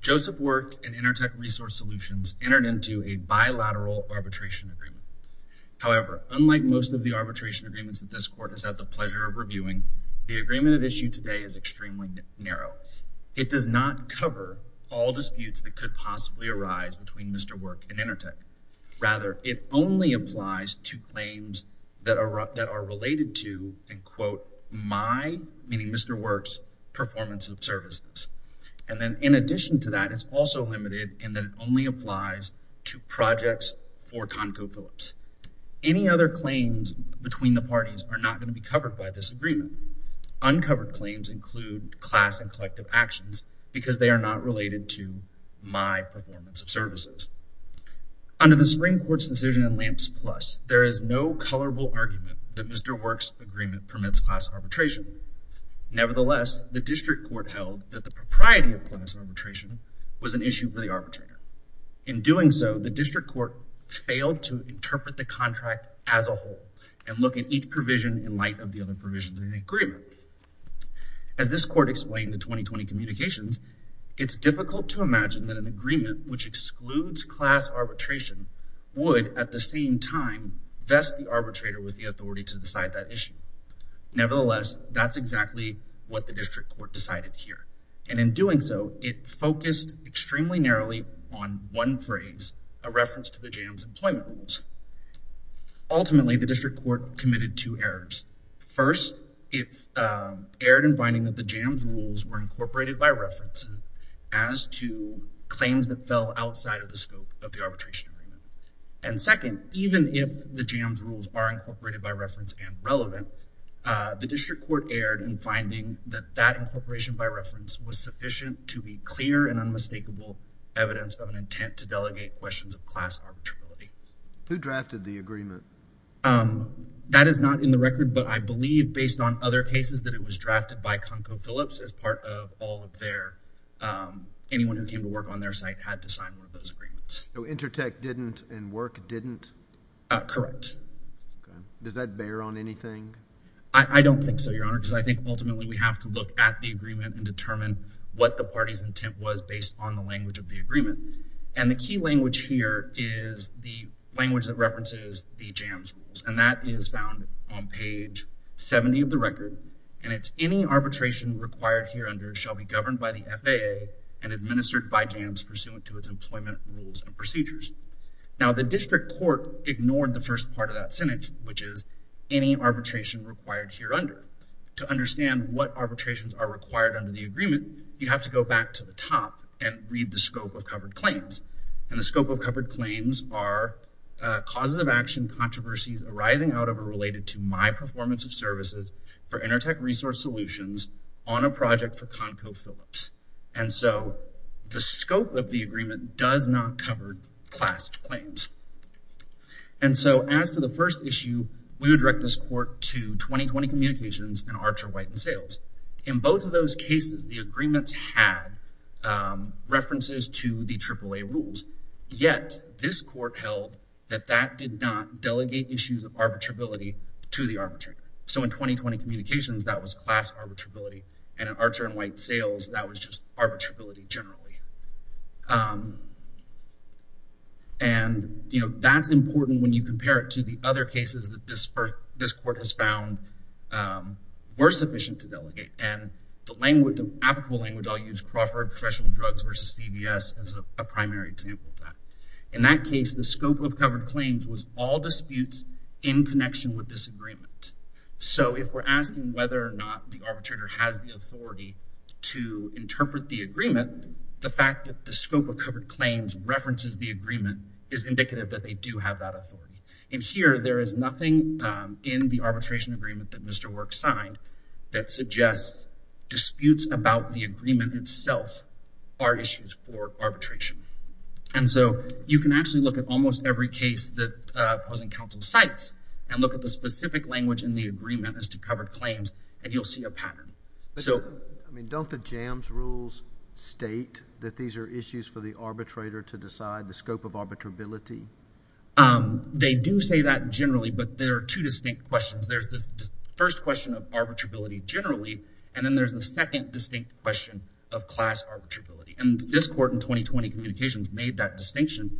Joseph Work and Intertek Resource Solutions entered into a bilateral arbitration agreement. However, unlike most of the arbitration agreements that this Court has had the pleasure of reviewing, the agreement at issue today is extremely narrow. It does not cover all disputes that could possibly arise between Mr. Work and Intertek. Rather, it only applies to claims that are related to, and quote, my, meaning Mr. Work's, performance of services. And then in addition to that, it's also limited in that it only applies to projects for Conco Phillips. Any other claims between the parties are not going to be covered by this agreement. Uncovered claims include class and collective actions because they are not related to my argument that Mr. Work's agreement permits class arbitration. Nevertheless, the District Court held that the propriety of class arbitration was an issue for the arbitrator. In doing so, the District Court failed to interpret the contract as a whole and look at each provision in light of the other provisions in the agreement. As this Court explained in the 2020 communications, it's difficult to imagine that an agreement which excludes class arbitration would, at the same time, vest the arbitrator with the authority to decide that issue. Nevertheless, that's exactly what the District Court decided here. And in doing so, it focused extremely narrowly on one phrase, a reference to the JAMS employment rules. Ultimately, the District Court committed two errors. First, it erred in finding that the JAMS rules were incorporated by reference as to claims that fell outside of the scope of the arbitration agreement. And second, even if the JAMS rules are incorporated by reference and relevant, the District Court erred in finding that that incorporation by reference was sufficient to be clear and unmistakable evidence of an intent to delegate questions of class arbitrarily. Who drafted the agreement? That is not in the record, but I believe, based on other cases, that it was drafted by Conco Phillips as part of all of their—anyone who came to work on their site had to sign one of those agreements. So Intertek didn't and Work didn't? Correct. Does that bear on anything? I don't think so, Your Honor, because I think ultimately we have to look at the agreement and determine what the party's intent was based on the language of the agreement. And the key language here is the language that references the JAMS rules, and that is found on page 70 of the record, and it's, Any arbitration required hereunder shall be governed by the FAA and administered by JAMS pursuant to its employment rules and procedures. Now the District Court ignored the first part of that sentence, which is any arbitration required hereunder. To understand what arbitrations are required under the agreement, you have to go back to the top and read the scope of covered claims. And the scope of covered claims are causes of action controversies arising out of or related to my performance of services for Intertek Resource Solutions on a project for Conco Phillips. And so the scope of the agreement does not cover class claims. And so as to the first issue, we would direct this court to 2020 Communications and Archer White and Sales. In both of those cases, the agreements had references to the AAA rules. Yet this court held that that did not delegate issues of arbitrability to the arbitrator. So in 2020 Communications, that was class arbitrability. And in Archer and White and Sales, that was just arbitrability generally. And that's important when you compare it to the other cases that this court has found were sufficient to delegate. And the language, the applicable language, I'll use Crawford Professional Drugs versus CVS as a primary example of that. In that case, the scope of covered claims was all disputes in connection with this agreement. So if we're asking whether or not the arbitrator has the authority to interpret the agreement, the fact that the scope of covered claims references the agreement is indicative that they do have that authority. And here, there is nothing in the arbitration agreement that Mr. Work signed that suggests disputes about the agreement itself are issues for arbitration. And so you can actually look at almost every case that was in counts of sites and look at the specific language in the agreement as to covered claims, and you'll see a pattern. I mean, don't the JAMS rules state that these are issues for the arbitrator to decide the scope of arbitrability? They do say that generally, but there are two distinct questions. There's the first question of arbitrability generally, and then there's the second distinct question of class arbitrability. And this court in 2020 Communications made that distinction,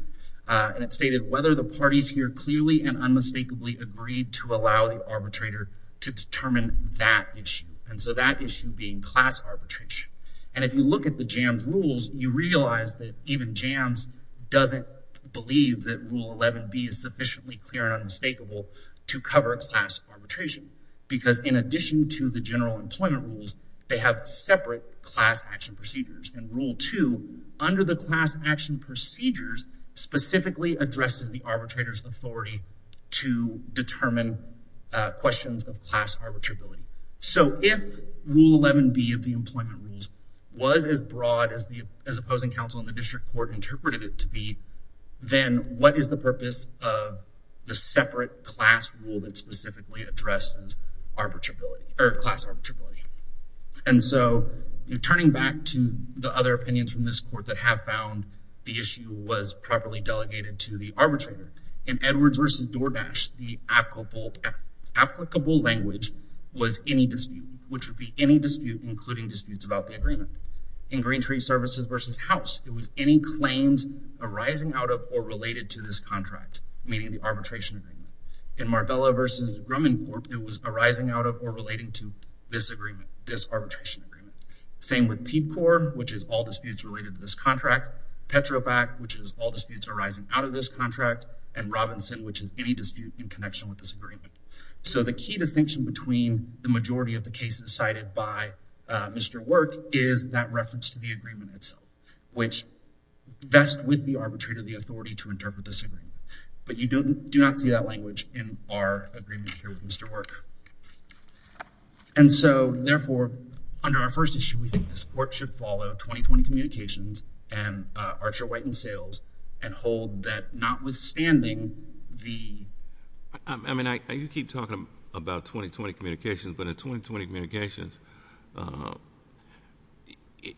and it stated whether the parties here clearly and unmistakably agreed to allow the arbitrator to determine that issue. And so that issue being class arbitration. And if you look at the JAMS rules, you realize that even JAMS doesn't believe that Rule 11b is sufficiently clear and unmistakable to cover class arbitration, because in addition to the general employment rules, they have separate class action procedures. And Rule 2, under the class action procedures, specifically addresses the arbitrator's authority to determine questions of class arbitrability. So if Rule 11b of the employment rules was as broad as the opposing counsel in the district court interpreted it to be, then what is the purpose of the separate class rule that specifically addresses class arbitrability? And so turning back to the other opinions from this court that have found the issue was properly delegated to the arbitrator. In Edwards v. Doordash, the applicable language was any dispute, which would be any dispute including disputes about the agreement. In Green Tree Services v. House, it was any claims arising out of or related to this contract, meaning the arbitration agreement. In Marbella v. Grumman Corp., it was arising out of or relating to this agreement, this arbitration agreement. Same with Peepcor, which is all disputes related to this contract. Petrobac, which is all disputes arising out of this contract. And Robinson, which is any dispute in connection with this agreement. So the key distinction between the majority of the cases cited by Mr. Work is that reference to the agreement itself, which vests with the arbitrator the authority to interpret this agreement. But you do not see that language in our agreement here with Mr. Work. And so, therefore, under our first issue, we think this court should follow 2020 communications and Archer, White, and Sales and hold that notwithstanding the— I mean, you keep talking about 2020 communications, but in 2020 communications,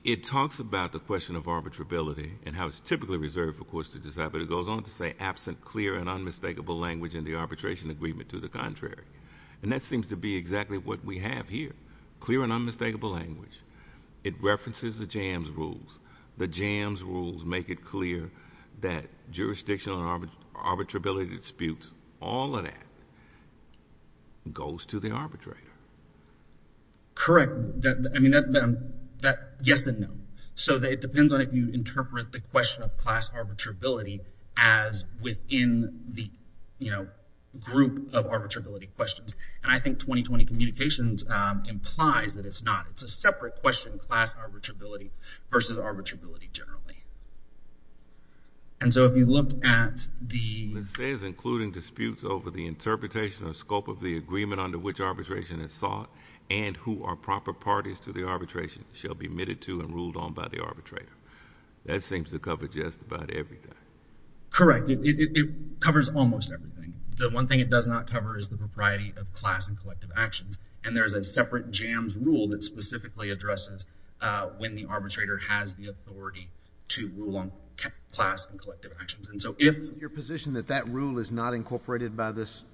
it talks about the question of arbitrability and how it's typically reserved, of course, to decide. But it goes on to say, absent clear and unmistakable language in the arbitration agreement to the contrary. And that seems to be exactly what we have here, clear and unmistakable. The jams rules make it clear that jurisdictional and arbitrability disputes, all of that goes to the arbitrator. Correct. I mean, yes and no. So it depends on if you interpret the question of class arbitrability as within the, you know, group of arbitrability questions. And I think 2020 communications implies that it's not. It's a separate question, class arbitrability versus arbitrability generally. And so, if you look at the— It says, including disputes over the interpretation or scope of the agreement under which arbitration is sought and who are proper parties to the arbitration shall be admitted to and ruled on by the arbitrator. That seems to cover just about everything. Correct. It covers almost everything. The one thing it does not cover is the propriety of class and collective actions. And there's a separate jams rule that specifically addresses when the arbitrator has the authority to rule on class and collective actions. And so, if— Your position that that rule is not incorporated by this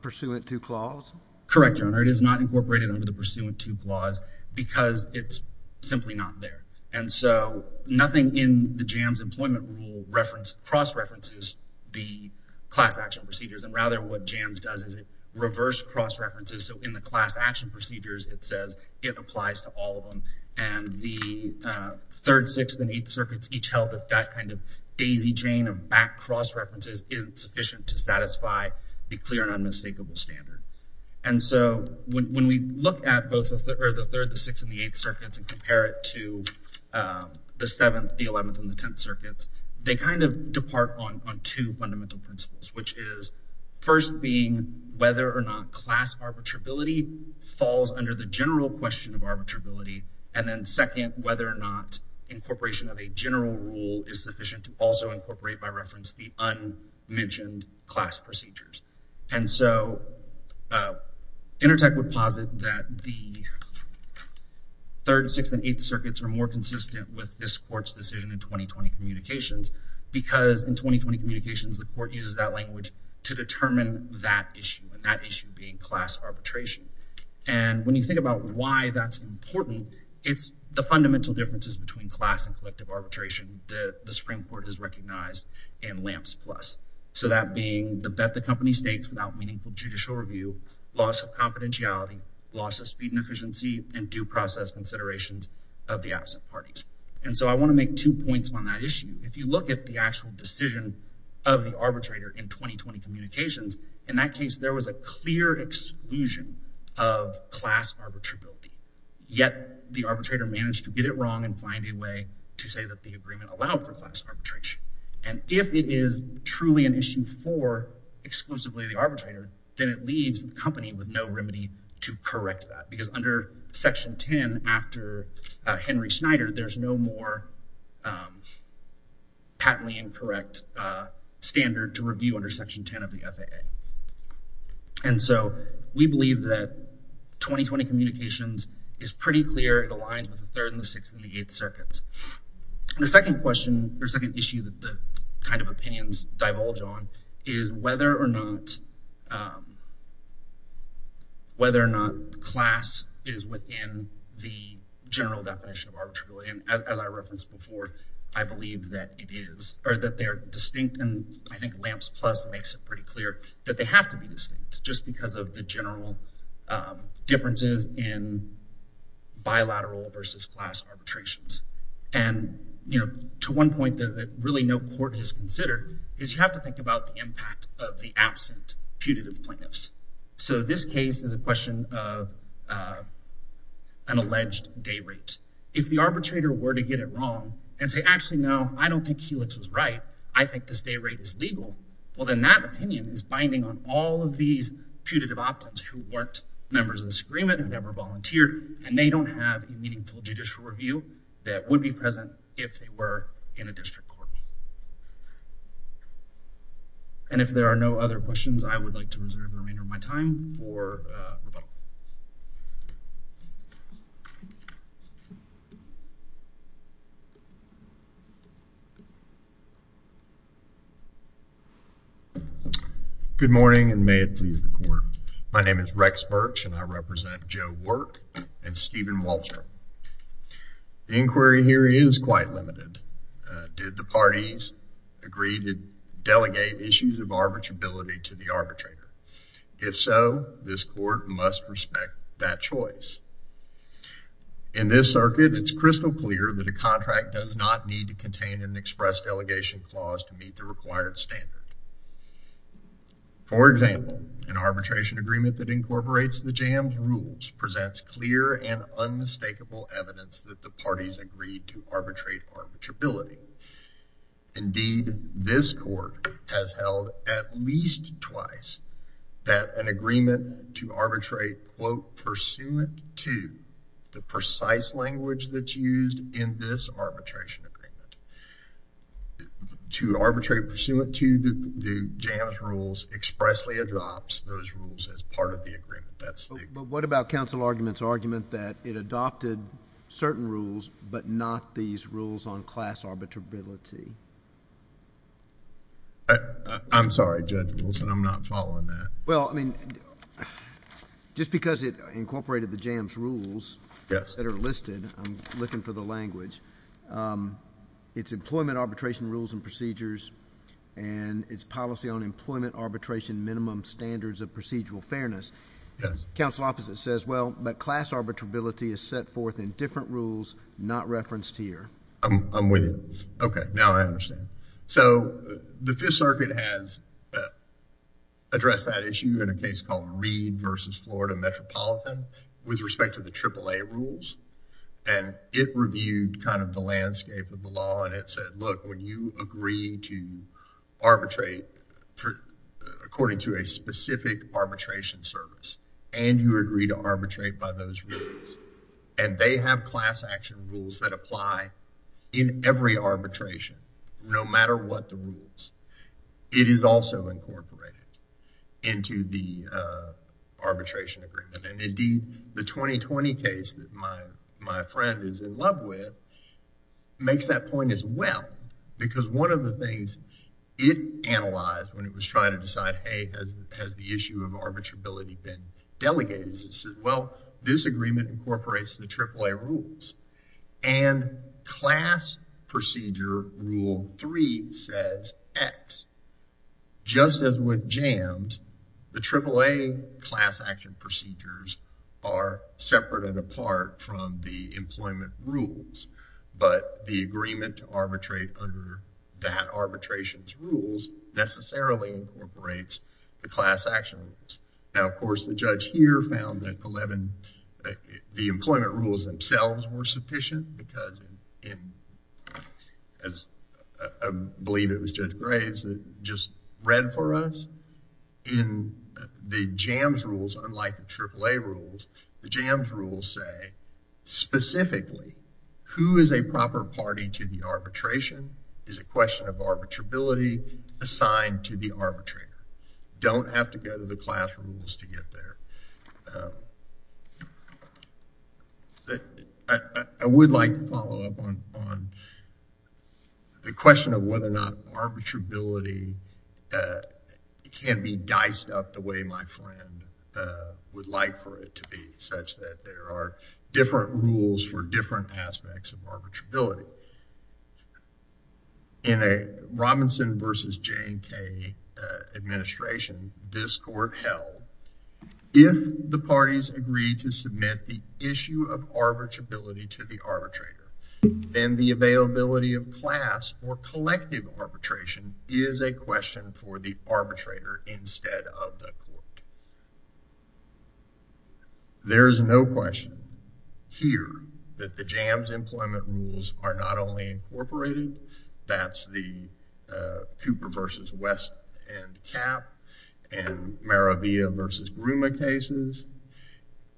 pursuant to clause? Correct, Your Honor. It is not incorporated under the pursuant to clause because it's simply not there. And so, nothing in the jams employment rule cross-references the class action procedures. And rather, what jams does is it reverse cross-references. So, in the class action procedures, it says it applies to all of them. And the third, sixth, and eighth circuits each held that kind of daisy chain of back cross-references isn't sufficient to satisfy the clear and unmistakable standard. And so, when we look at both the third, the sixth, and the eighth circuits and compare it to the seventh, the eleventh, and the tenth circuits, they kind of depart on two fundamental principles, which is first being whether or not class arbitrability falls under the general question of arbitrability, and then second, whether or not incorporation of a general rule is sufficient to also incorporate by reference the unmentioned class procedures. And so, Intertech would posit that the third, sixth, and eighth circuits are more consistent with this communications. The court uses that language to determine that issue, and that issue being class arbitration. And when you think about why that's important, it's the fundamental differences between class and collective arbitration that the Supreme Court has recognized in LAMPS plus. So, that being the bet the company stakes without meaningful judicial review, loss of confidentiality, loss of speed and efficiency, and due process considerations of the absent parties. And so, I want to make two points on that issue. If you look at the actual decision of the arbitrator in 2020 communications, in that case, there was a clear exclusion of class arbitrability. Yet, the arbitrator managed to get it wrong and find a way to say that the agreement allowed for class arbitration. And if it is truly an issue for exclusively the arbitrator, then it leaves the company with no remedy to correct that. Because under Section 10, after Henry Schneider, there's no more patently incorrect standard to review under Section 10 of the FAA. And so, we believe that 2020 communications is pretty clear. It aligns with the third, and the sixth, and the eighth circuits. The second question, or second is within the general definition of arbitrability. And as I referenced before, I believe that it is, or that they're distinct. And I think LAMPS plus makes it pretty clear that they have to be distinct just because of the general differences in bilateral versus class arbitrations. And, you know, to one point that really no court has considered is you have to think about the impact of the absent putative plaintiffs. So, this case is a question of an alleged day rate. If the arbitrator were to get it wrong and say, actually, no, I don't think Helix was right. I think this day rate is legal. Well, then that opinion is binding on all of these putative opt-ins who weren't members of this agreement and never volunteered. And they don't have a meaningful judicial review that would be present if they were in a district court. And if there are no other questions, I would like to reserve the remainder of my time for rebuttal. Good morning, and may it please the court. My name is Rex Birch, and I represent Joe Wallstrom. The inquiry here is quite limited. Did the parties agree to delegate issues of arbitrability to the arbitrator? If so, this court must respect that choice. In this circuit, it's crystal clear that a contract does not need to contain an express delegation clause to meet the required standard. For example, an arbitration agreement that evidence that the parties agreed to arbitrate arbitrability. Indeed, this court has held at least twice that an agreement to arbitrate, quote, pursuant to the precise language that's used in this arbitration agreement. To arbitrate pursuant to the JAMS rules expressly adopts those rules as part of the agreement. But what about counsel argument's argument that it adopted certain rules, but not these rules on class arbitrability? I'm sorry, Judge Wilson, I'm not following that. Well, I mean, just because it incorporated the JAMS rules that are listed, I'm looking for the language. It's employment arbitration rules and procedures, and it's policy on employment arbitration minimum standards of procedural fairness. Yes. Counsel opposite says, well, but class arbitrability is set forth in different rules not referenced here. I'm with you. Okay, now I understand. So, the Fifth Circuit has addressed that issue in a case called Reed versus Florida Metropolitan with respect to the AAA rules, and it reviewed kind of the landscape of the law, and it said, look, when you agree to arbitrate according to a specific arbitration service, and you agree to arbitrate by those rules, and they have class action rules that apply in every arbitration, no matter what the rules, it is also incorporated into the arbitration agreement, and indeed, the 2020 case that my friend is in love with makes that point as well, because one of the things it analyzed when it was trying to decide, hey, has the issue of arbitrability been delegated? Well, this agreement incorporates the AAA rules, and class procedure rule three says X. Just as with jams, the AAA class action procedures are separate and apart from the employment rules, but the agreement to arbitrate under that arbitration's rules necessarily incorporates the class action rules. Now, of course, the judge here found that 11, the employment rules themselves were sufficient because, as I believe it was Judge Graves that just read for us, in the jams rules, unlike the AAA rules, the jams rules say specifically who is a proper party to the arbitration is a question of arbitrability assigned to the arbitrator. Don't have to go to the class rules to get there. I would like to follow up on the question of whether or not arbitrability can be diced up the way my friend would like for it to be, such that there are different rules for different aspects of arbitrability. So, in a Robinson versus J&K administration, this court held, if the parties agree to submit the issue of arbitrability to the arbitrator, then the availability of class or collective arbitration is a question for the arbitrator instead of the court. There is no question here that the jams employment rules are not only incorporated, that's the Cooper versus West and Cap and Maravia versus Gruma cases.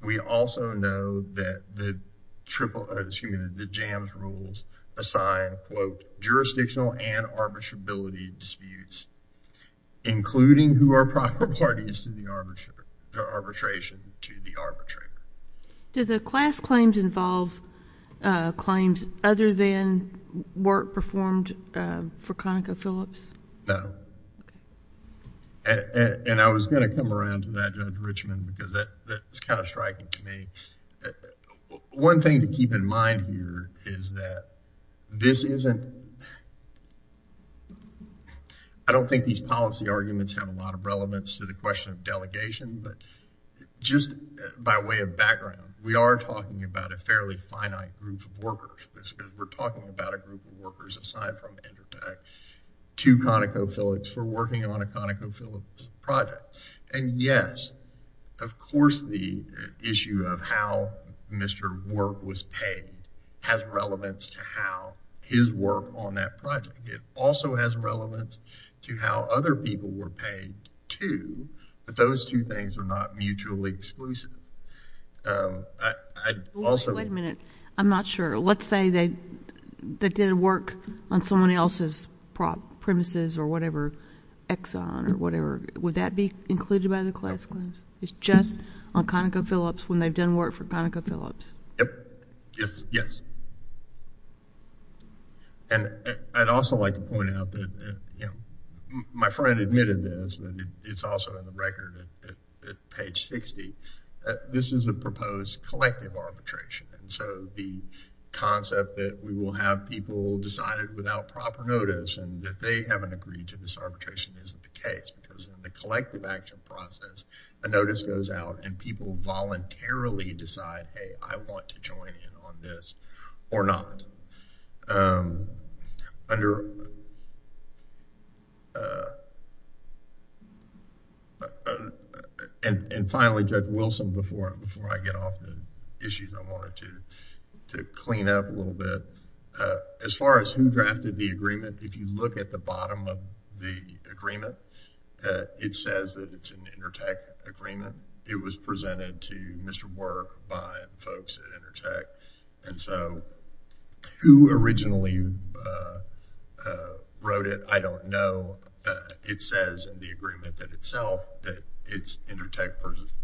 We also know that the triple, excuse me, the jams rules assign, quote, jurisdictional and arbitrability disputes, including who are proper parties to the arbitration to the arbitrator. Do the class claims involve claims other than work performed for ConocoPhillips? No. And I was going to come around to that, Judge Richman, because that's kind of striking to me. But one thing to keep in mind here is that this isn't, I don't think these policy arguments have a lot of relevance to the question of delegation, but just by way of background, we are talking about a fairly finite group of workers. We're talking about a group of workers, aside from EnterTech, to ConocoPhillips for working on a ConocoPhillips project. And yes, of course, the issue of how Mr. Work was paid has relevance to how his work on that project. It also has relevance to how other people were paid too, but those two things are not mutually exclusive. I also... Wait a minute. I'm not sure. Let's say they did work on someone else's premises or whatever, Exxon or whatever. Would that be included by the class claims? It's just on ConocoPhillips when they've done work for ConocoPhillips. Yes. And I'd also like to point out that, you know, my friend admitted this, but it's also in the record at page 60. This is a proposed collective arbitration. And so the concept that we will have people decided without proper notice and that they haven't agreed to this arbitration isn't the case because in the collective action process, a notice goes out and people voluntarily decide, hey, I want to join in on this or not. And finally, Judge Wilson, before I get off the issues, I wanted to clean up a little bit. As far as who drafted the agreement, if you look at the bottom of the agreement, it says that it's an Intertek agreement. It was presented to Mr. Work by folks at Intertek. And so who originally wrote it, I don't know. It says in the agreement that itself that it's Intertek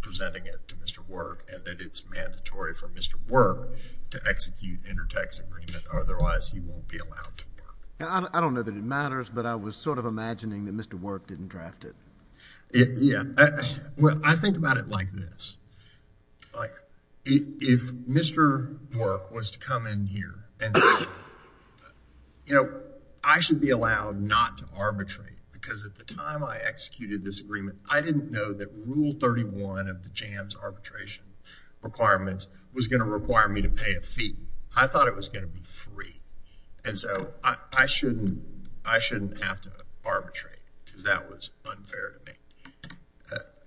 presenting it to Mr. Work and that it's mandatory for Mr. Work to execute Intertek's agreement, otherwise he won't be allowed to work. I don't know that it matters, but I was sort of imagining that Mr. Work didn't draft it. Yeah. Well, I think about it like this. If Mr. Work was to come in here and, you know, I should be allowed not to arbitrate because at the time I executed this agreement, I didn't know that Rule 31 of the JAMS arbitration requirements was going to require me to pay a fee. I thought it was going to be free. And so I shouldn't have to arbitrate because that was unfair to me.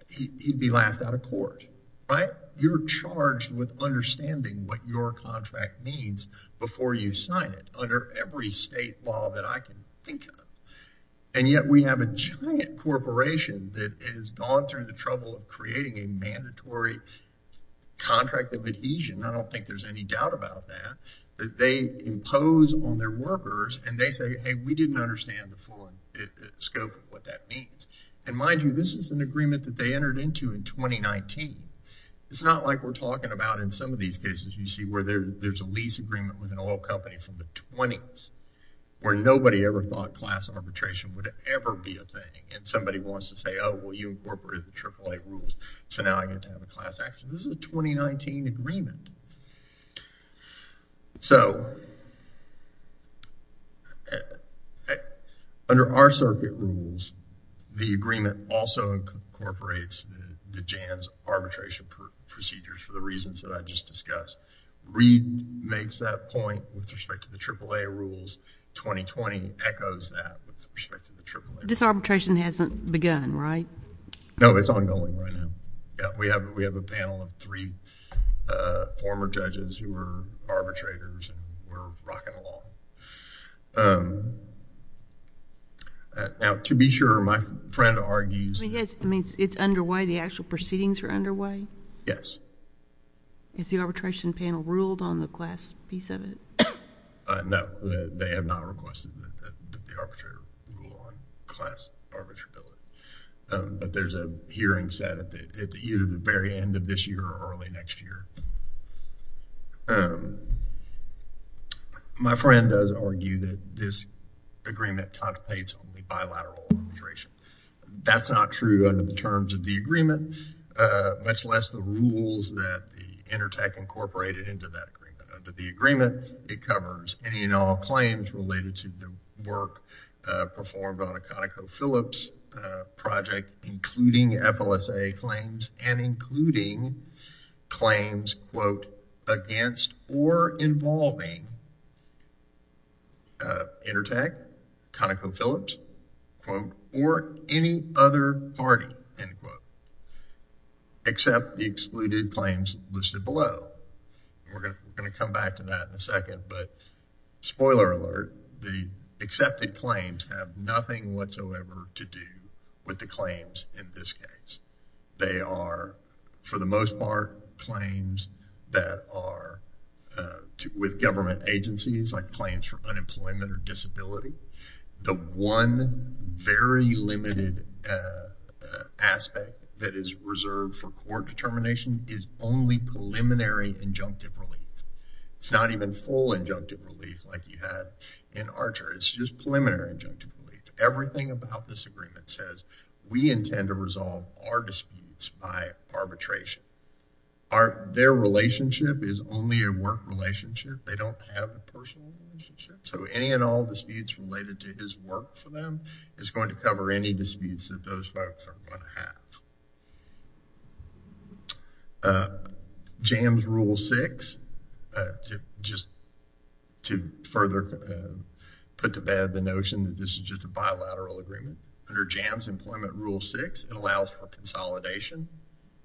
He'd be laughed out of court, right? You're charged with understanding what your contract means before you sign it under every state law that I can think of. And yet, we have a giant corporation that has gone through the trouble of creating a mandatory contract of adhesion. I don't think there's any doubt about that. They impose on their workers and they say, hey, we didn't understand the full scope of what that means. And mind you, this is an agreement that they entered into in 2019. It's not like we're talking about in some of these cases you see where there's a lease agreement with an oil company from the 20s where nobody ever thought class arbitration would ever be a thing and somebody wants to say, oh, well, you incorporated the AAA rules, so now I get to have a class action. This is a 2019 agreement. So, under our circuit rules, the agreement also incorporates the JAMS arbitration procedures for the reasons that I just discussed. Reid makes that point with respect to the AAA rules. 2020 echoes that with respect to the AAA rules. This arbitration hasn't begun, right? No, it's ongoing right now. Yeah, we have a panel of three former judges who were arbitrators and we're rocking along. Now, to be sure, my friend argues... He has... I mean, it's underway, the actual proceedings are underway? Yes. Is the arbitration panel ruled on the class piece of it? No, they have not requested that the arbitrator rule on class arbitrability, but there's a hearing set at either the very end of this year or early next year. My friend does argue that this agreement contemplates only bilateral arbitration. That's not true under the terms of the agreement, much less the rules that the agreement. It covers any and all claims related to the work performed on a ConocoPhillips project, including FLSA claims and including claims, quote, against or involving Intertek, ConocoPhillips, quote, or any other party, end quote, except the excluded claims listed below. We're going to come back to that in a second, but spoiler alert, the accepted claims have nothing whatsoever to do with the claims in this case. They are, for the most part, claims that are with government agencies, like claims for court determination is only preliminary injunctive relief. It's not even full injunctive relief like you had in Archer. It's just preliminary injunctive relief. Everything about this agreement says we intend to resolve our disputes by arbitration. Their relationship is only a work relationship. They don't have a personal relationship, so any and all disputes related to his work for them is going to cover any disputes that those folks are going to have. JAMS Rule 6, just to further put to bed the notion that this is just a bilateral agreement, under JAMS Employment Rule 6, it allows for consolidation.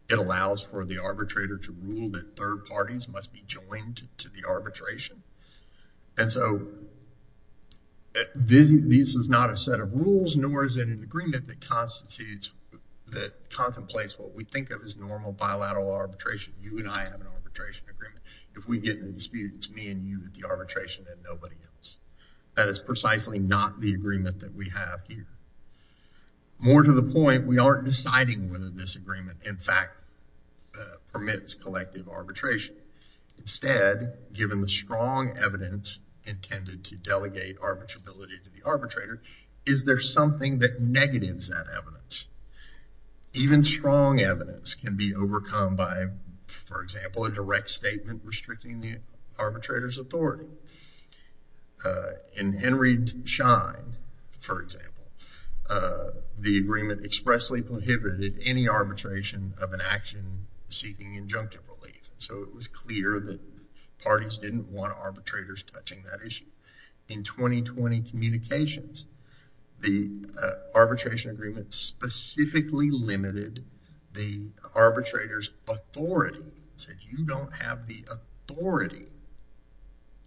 It allows for the arbitrator to rule that third parties must be joined to the arbitration. And so, this is not a set of rules, nor is it an agreement that constitutes, that contemplates what we think of as normal bilateral arbitration. You and I have an arbitration agreement. If we get in a dispute, it's me and you at the arbitration and nobody else. That is precisely not the agreement that we have here. More to the point, we aren't deciding whether this agreement, in fact, permits collective arbitration. Instead, given the strong evidence intended to delegate arbitrability to the arbitrator, is there something that negatives that evidence? Even strong evidence can be overcome by, for example, a direct statement restricting the arbitrator's authority. In Henry Schein, for example, the agreement expressly prohibited any arbitration of an action seeking injunctive relief. So, it was clear that parties didn't want arbitrators touching that issue. In 2020 communications, the arbitration agreement specifically limited the arbitrator's authority. It said, you don't have the authority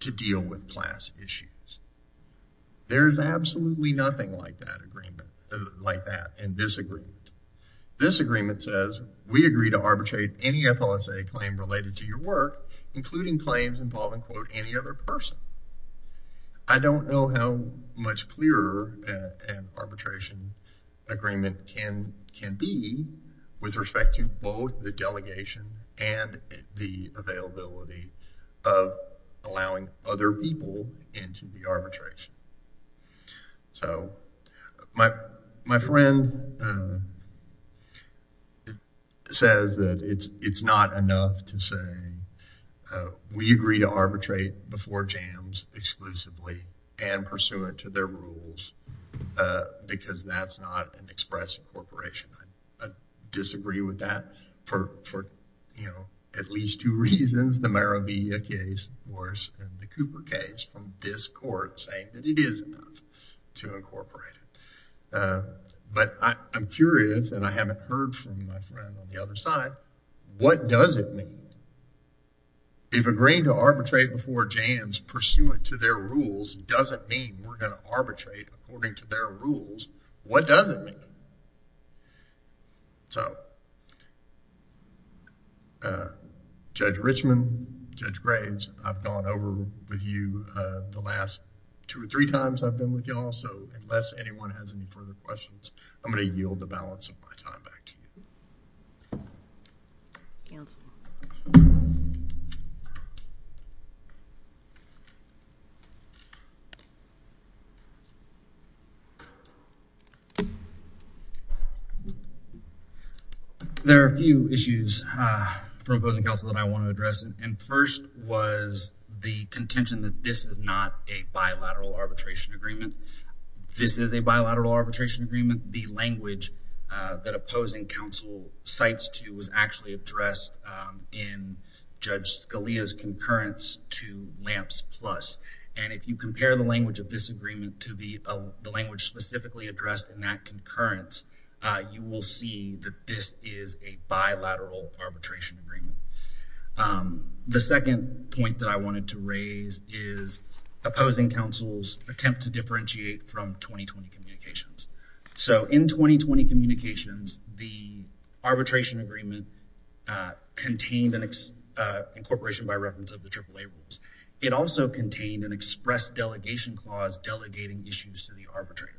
to deal with class issues. There's absolutely nothing like that agreement, like that, in this agreement. This agreement says, we agree to arbitrate any FLSA claim related to your work, including claims involving, quote, any other person. I don't know how much clearer an arbitration agreement can be with respect to both the delegation and the availability of allowing other people into the arbitration. So, my friend says that it's not enough to say, we agree to arbitrate before jams exclusively and pursuant to their rules, because that's not an expressive corporation. I disagree with that for, you know, at least two reasons, the Maravilla case worse than the Cooper case, from this court saying that it is enough to incorporate it. But I'm curious, and I haven't heard from my friend on the other side, what does it mean? If agreeing to arbitrate before jams pursuant to their rules doesn't mean we're going to arbitrate according to their rules, what does it mean? So, Judge Richman, Judge Graves, I've gone over with you the last two or three times I've been with you all, so unless anyone has any further questions, I'm going to yield the balance of my time. There are a few issues from opposing counsel that I want to address, and first was the contention that this is not a bilateral arbitration agreement. This is a bilateral arbitration agreement. The language that opposing counsel cites to was actually addressed in Judge Scalia's concurrence to LAMPS Plus. And if you compare the language of this agreement to the language specifically addressed in that concurrence, you will see that this is a bilateral arbitration agreement. The second point that I wanted to raise is opposing counsel's attempt to differentiate from 2020 communications. So, in 2020 communications, the arbitration agreement contained an incorporation by reference of the AAA rules. It also contained an express delegation clause delegating issues to the arbitrator.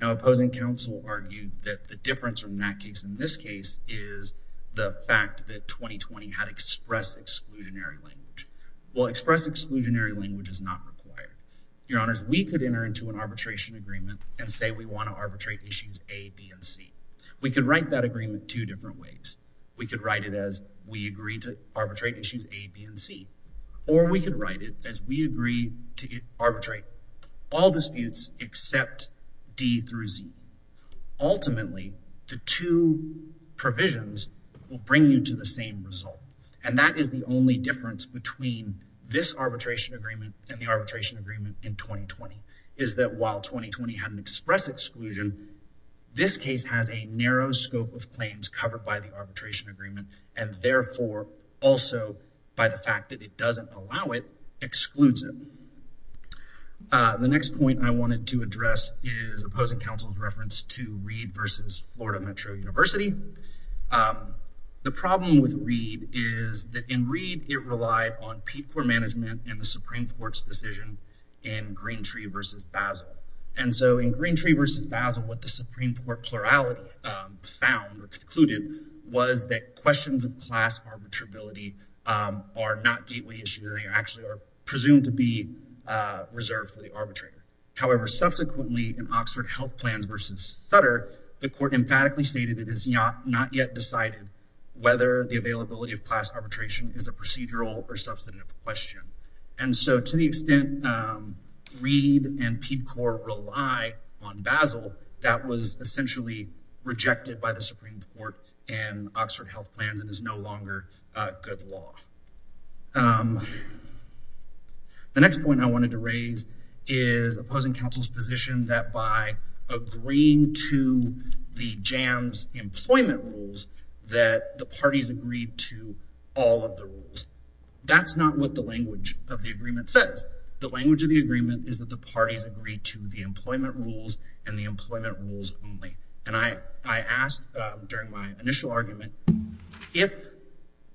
Now, opposing counsel argued that the difference from that case in this case is the fact that 2020 had express exclusionary language. Well, express exclusionary language is not required. Your honors, we could enter into an arbitration agreement and say we want to arbitrate issues A, B, and C. We could write that agreement two different ways. We could write it as we agree to arbitrate issues A, B, and C, or we could write it as we agree to arbitrate all disputes except D through Z. Ultimately, the two provisions will bring you to the same result. And that is the only difference between this arbitration agreement and the arbitration agreement in 2020, is that while 2020 had an express exclusion, this case has a narrow scope of claims covered by the arbitration agreement and therefore also by the fact that it doesn't allow it, excludes it. The next point I wanted to address is opposing counsel's reference to Reed v. Florida Metro University. The problem with Reed is that in Reed, it relied on people for management and the Supreme Court's decision in Greentree v. Basel. And so, in Greentree v. Basel, what the Supreme Court plurality found or concluded was that questions of class arbitrability are not gateway issues. They actually are presumed to be reserved for the arbitrator. However, subsequently in Oxford Health Plans v. Sutter, the court emphatically stated it has not yet decided whether the availability of class arbitration is a procedural or substantive question. And so, to the extent Reed and PEDCOR rely on Basel, that was essentially rejected by the Supreme Court in Oxford Health Plans and is no longer good law. The next point I wanted to raise is opposing counsel's position that by agreeing to the That's not what the language of the agreement says. The language of the agreement is that the parties agree to the employment rules and the employment rules only. And I asked during my initial argument, if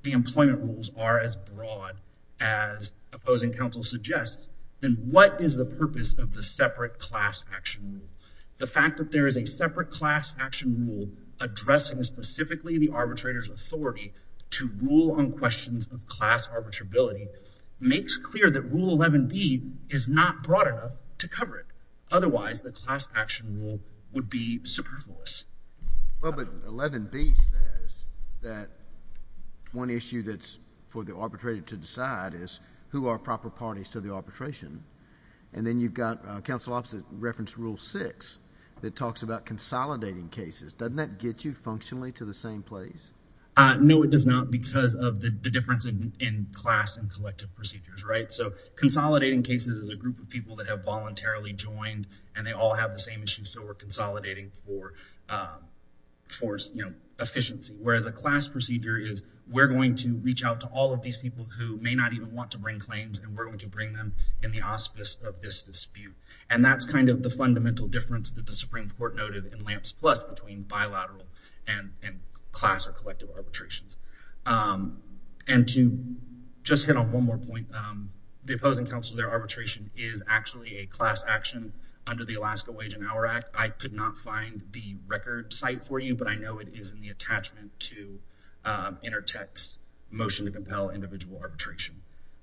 the employment rules are as broad as opposing counsel suggests, then what is the purpose of the separate class action rule? The fact that there is a separate class action rule addressing specifically the arbitrator's authority to rule on questions of arbitrability makes clear that Rule 11B is not broad enough to cover it. Otherwise, the class action rule would be superfluous. Well, but 11B says that one issue that's for the arbitrator to decide is who are proper parties to the arbitration. And then you've got counsel opposite reference Rule 6 that talks about consolidating cases. Doesn't that get you class and collective procedures, right? So consolidating cases is a group of people that have voluntarily joined and they all have the same issue. So we're consolidating for efficiency, whereas a class procedure is we're going to reach out to all of these people who may not even want to bring claims and we're going to bring them in the auspice of this dispute. And that's kind of the fundamental difference that the Supreme Court noted in Lamps Plus between bilateral and class or collective arbitrations. And to just hit on one more point, the opposing counsel, their arbitration is actually a class action under the Alaska Wage and Hour Act. I could not find the record site for you, but I know it is in the attachment to Intertech's motion to compel individual arbitration.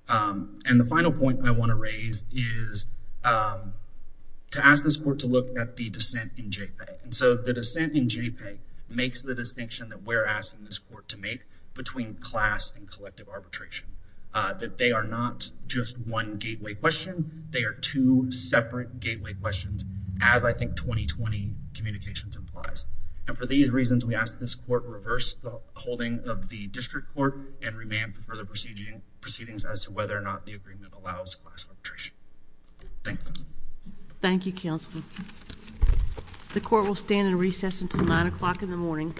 And the final point I want to raise is to ask this court to look at the dissent in JPEG. And so the dissent in JPEG makes the distinction that we're asking this court to make between class and collective arbitration, that they are not just one gateway question. They are two separate gateway questions, as I think 2020 communications implies. And for these reasons, we ask this court reverse the holding of the district court and remand for the proceeding proceedings as to whether or not the agreement allows class arbitration. Thank you. Thank you, counsel. The court will stand in recess until nine o'clock in the morning.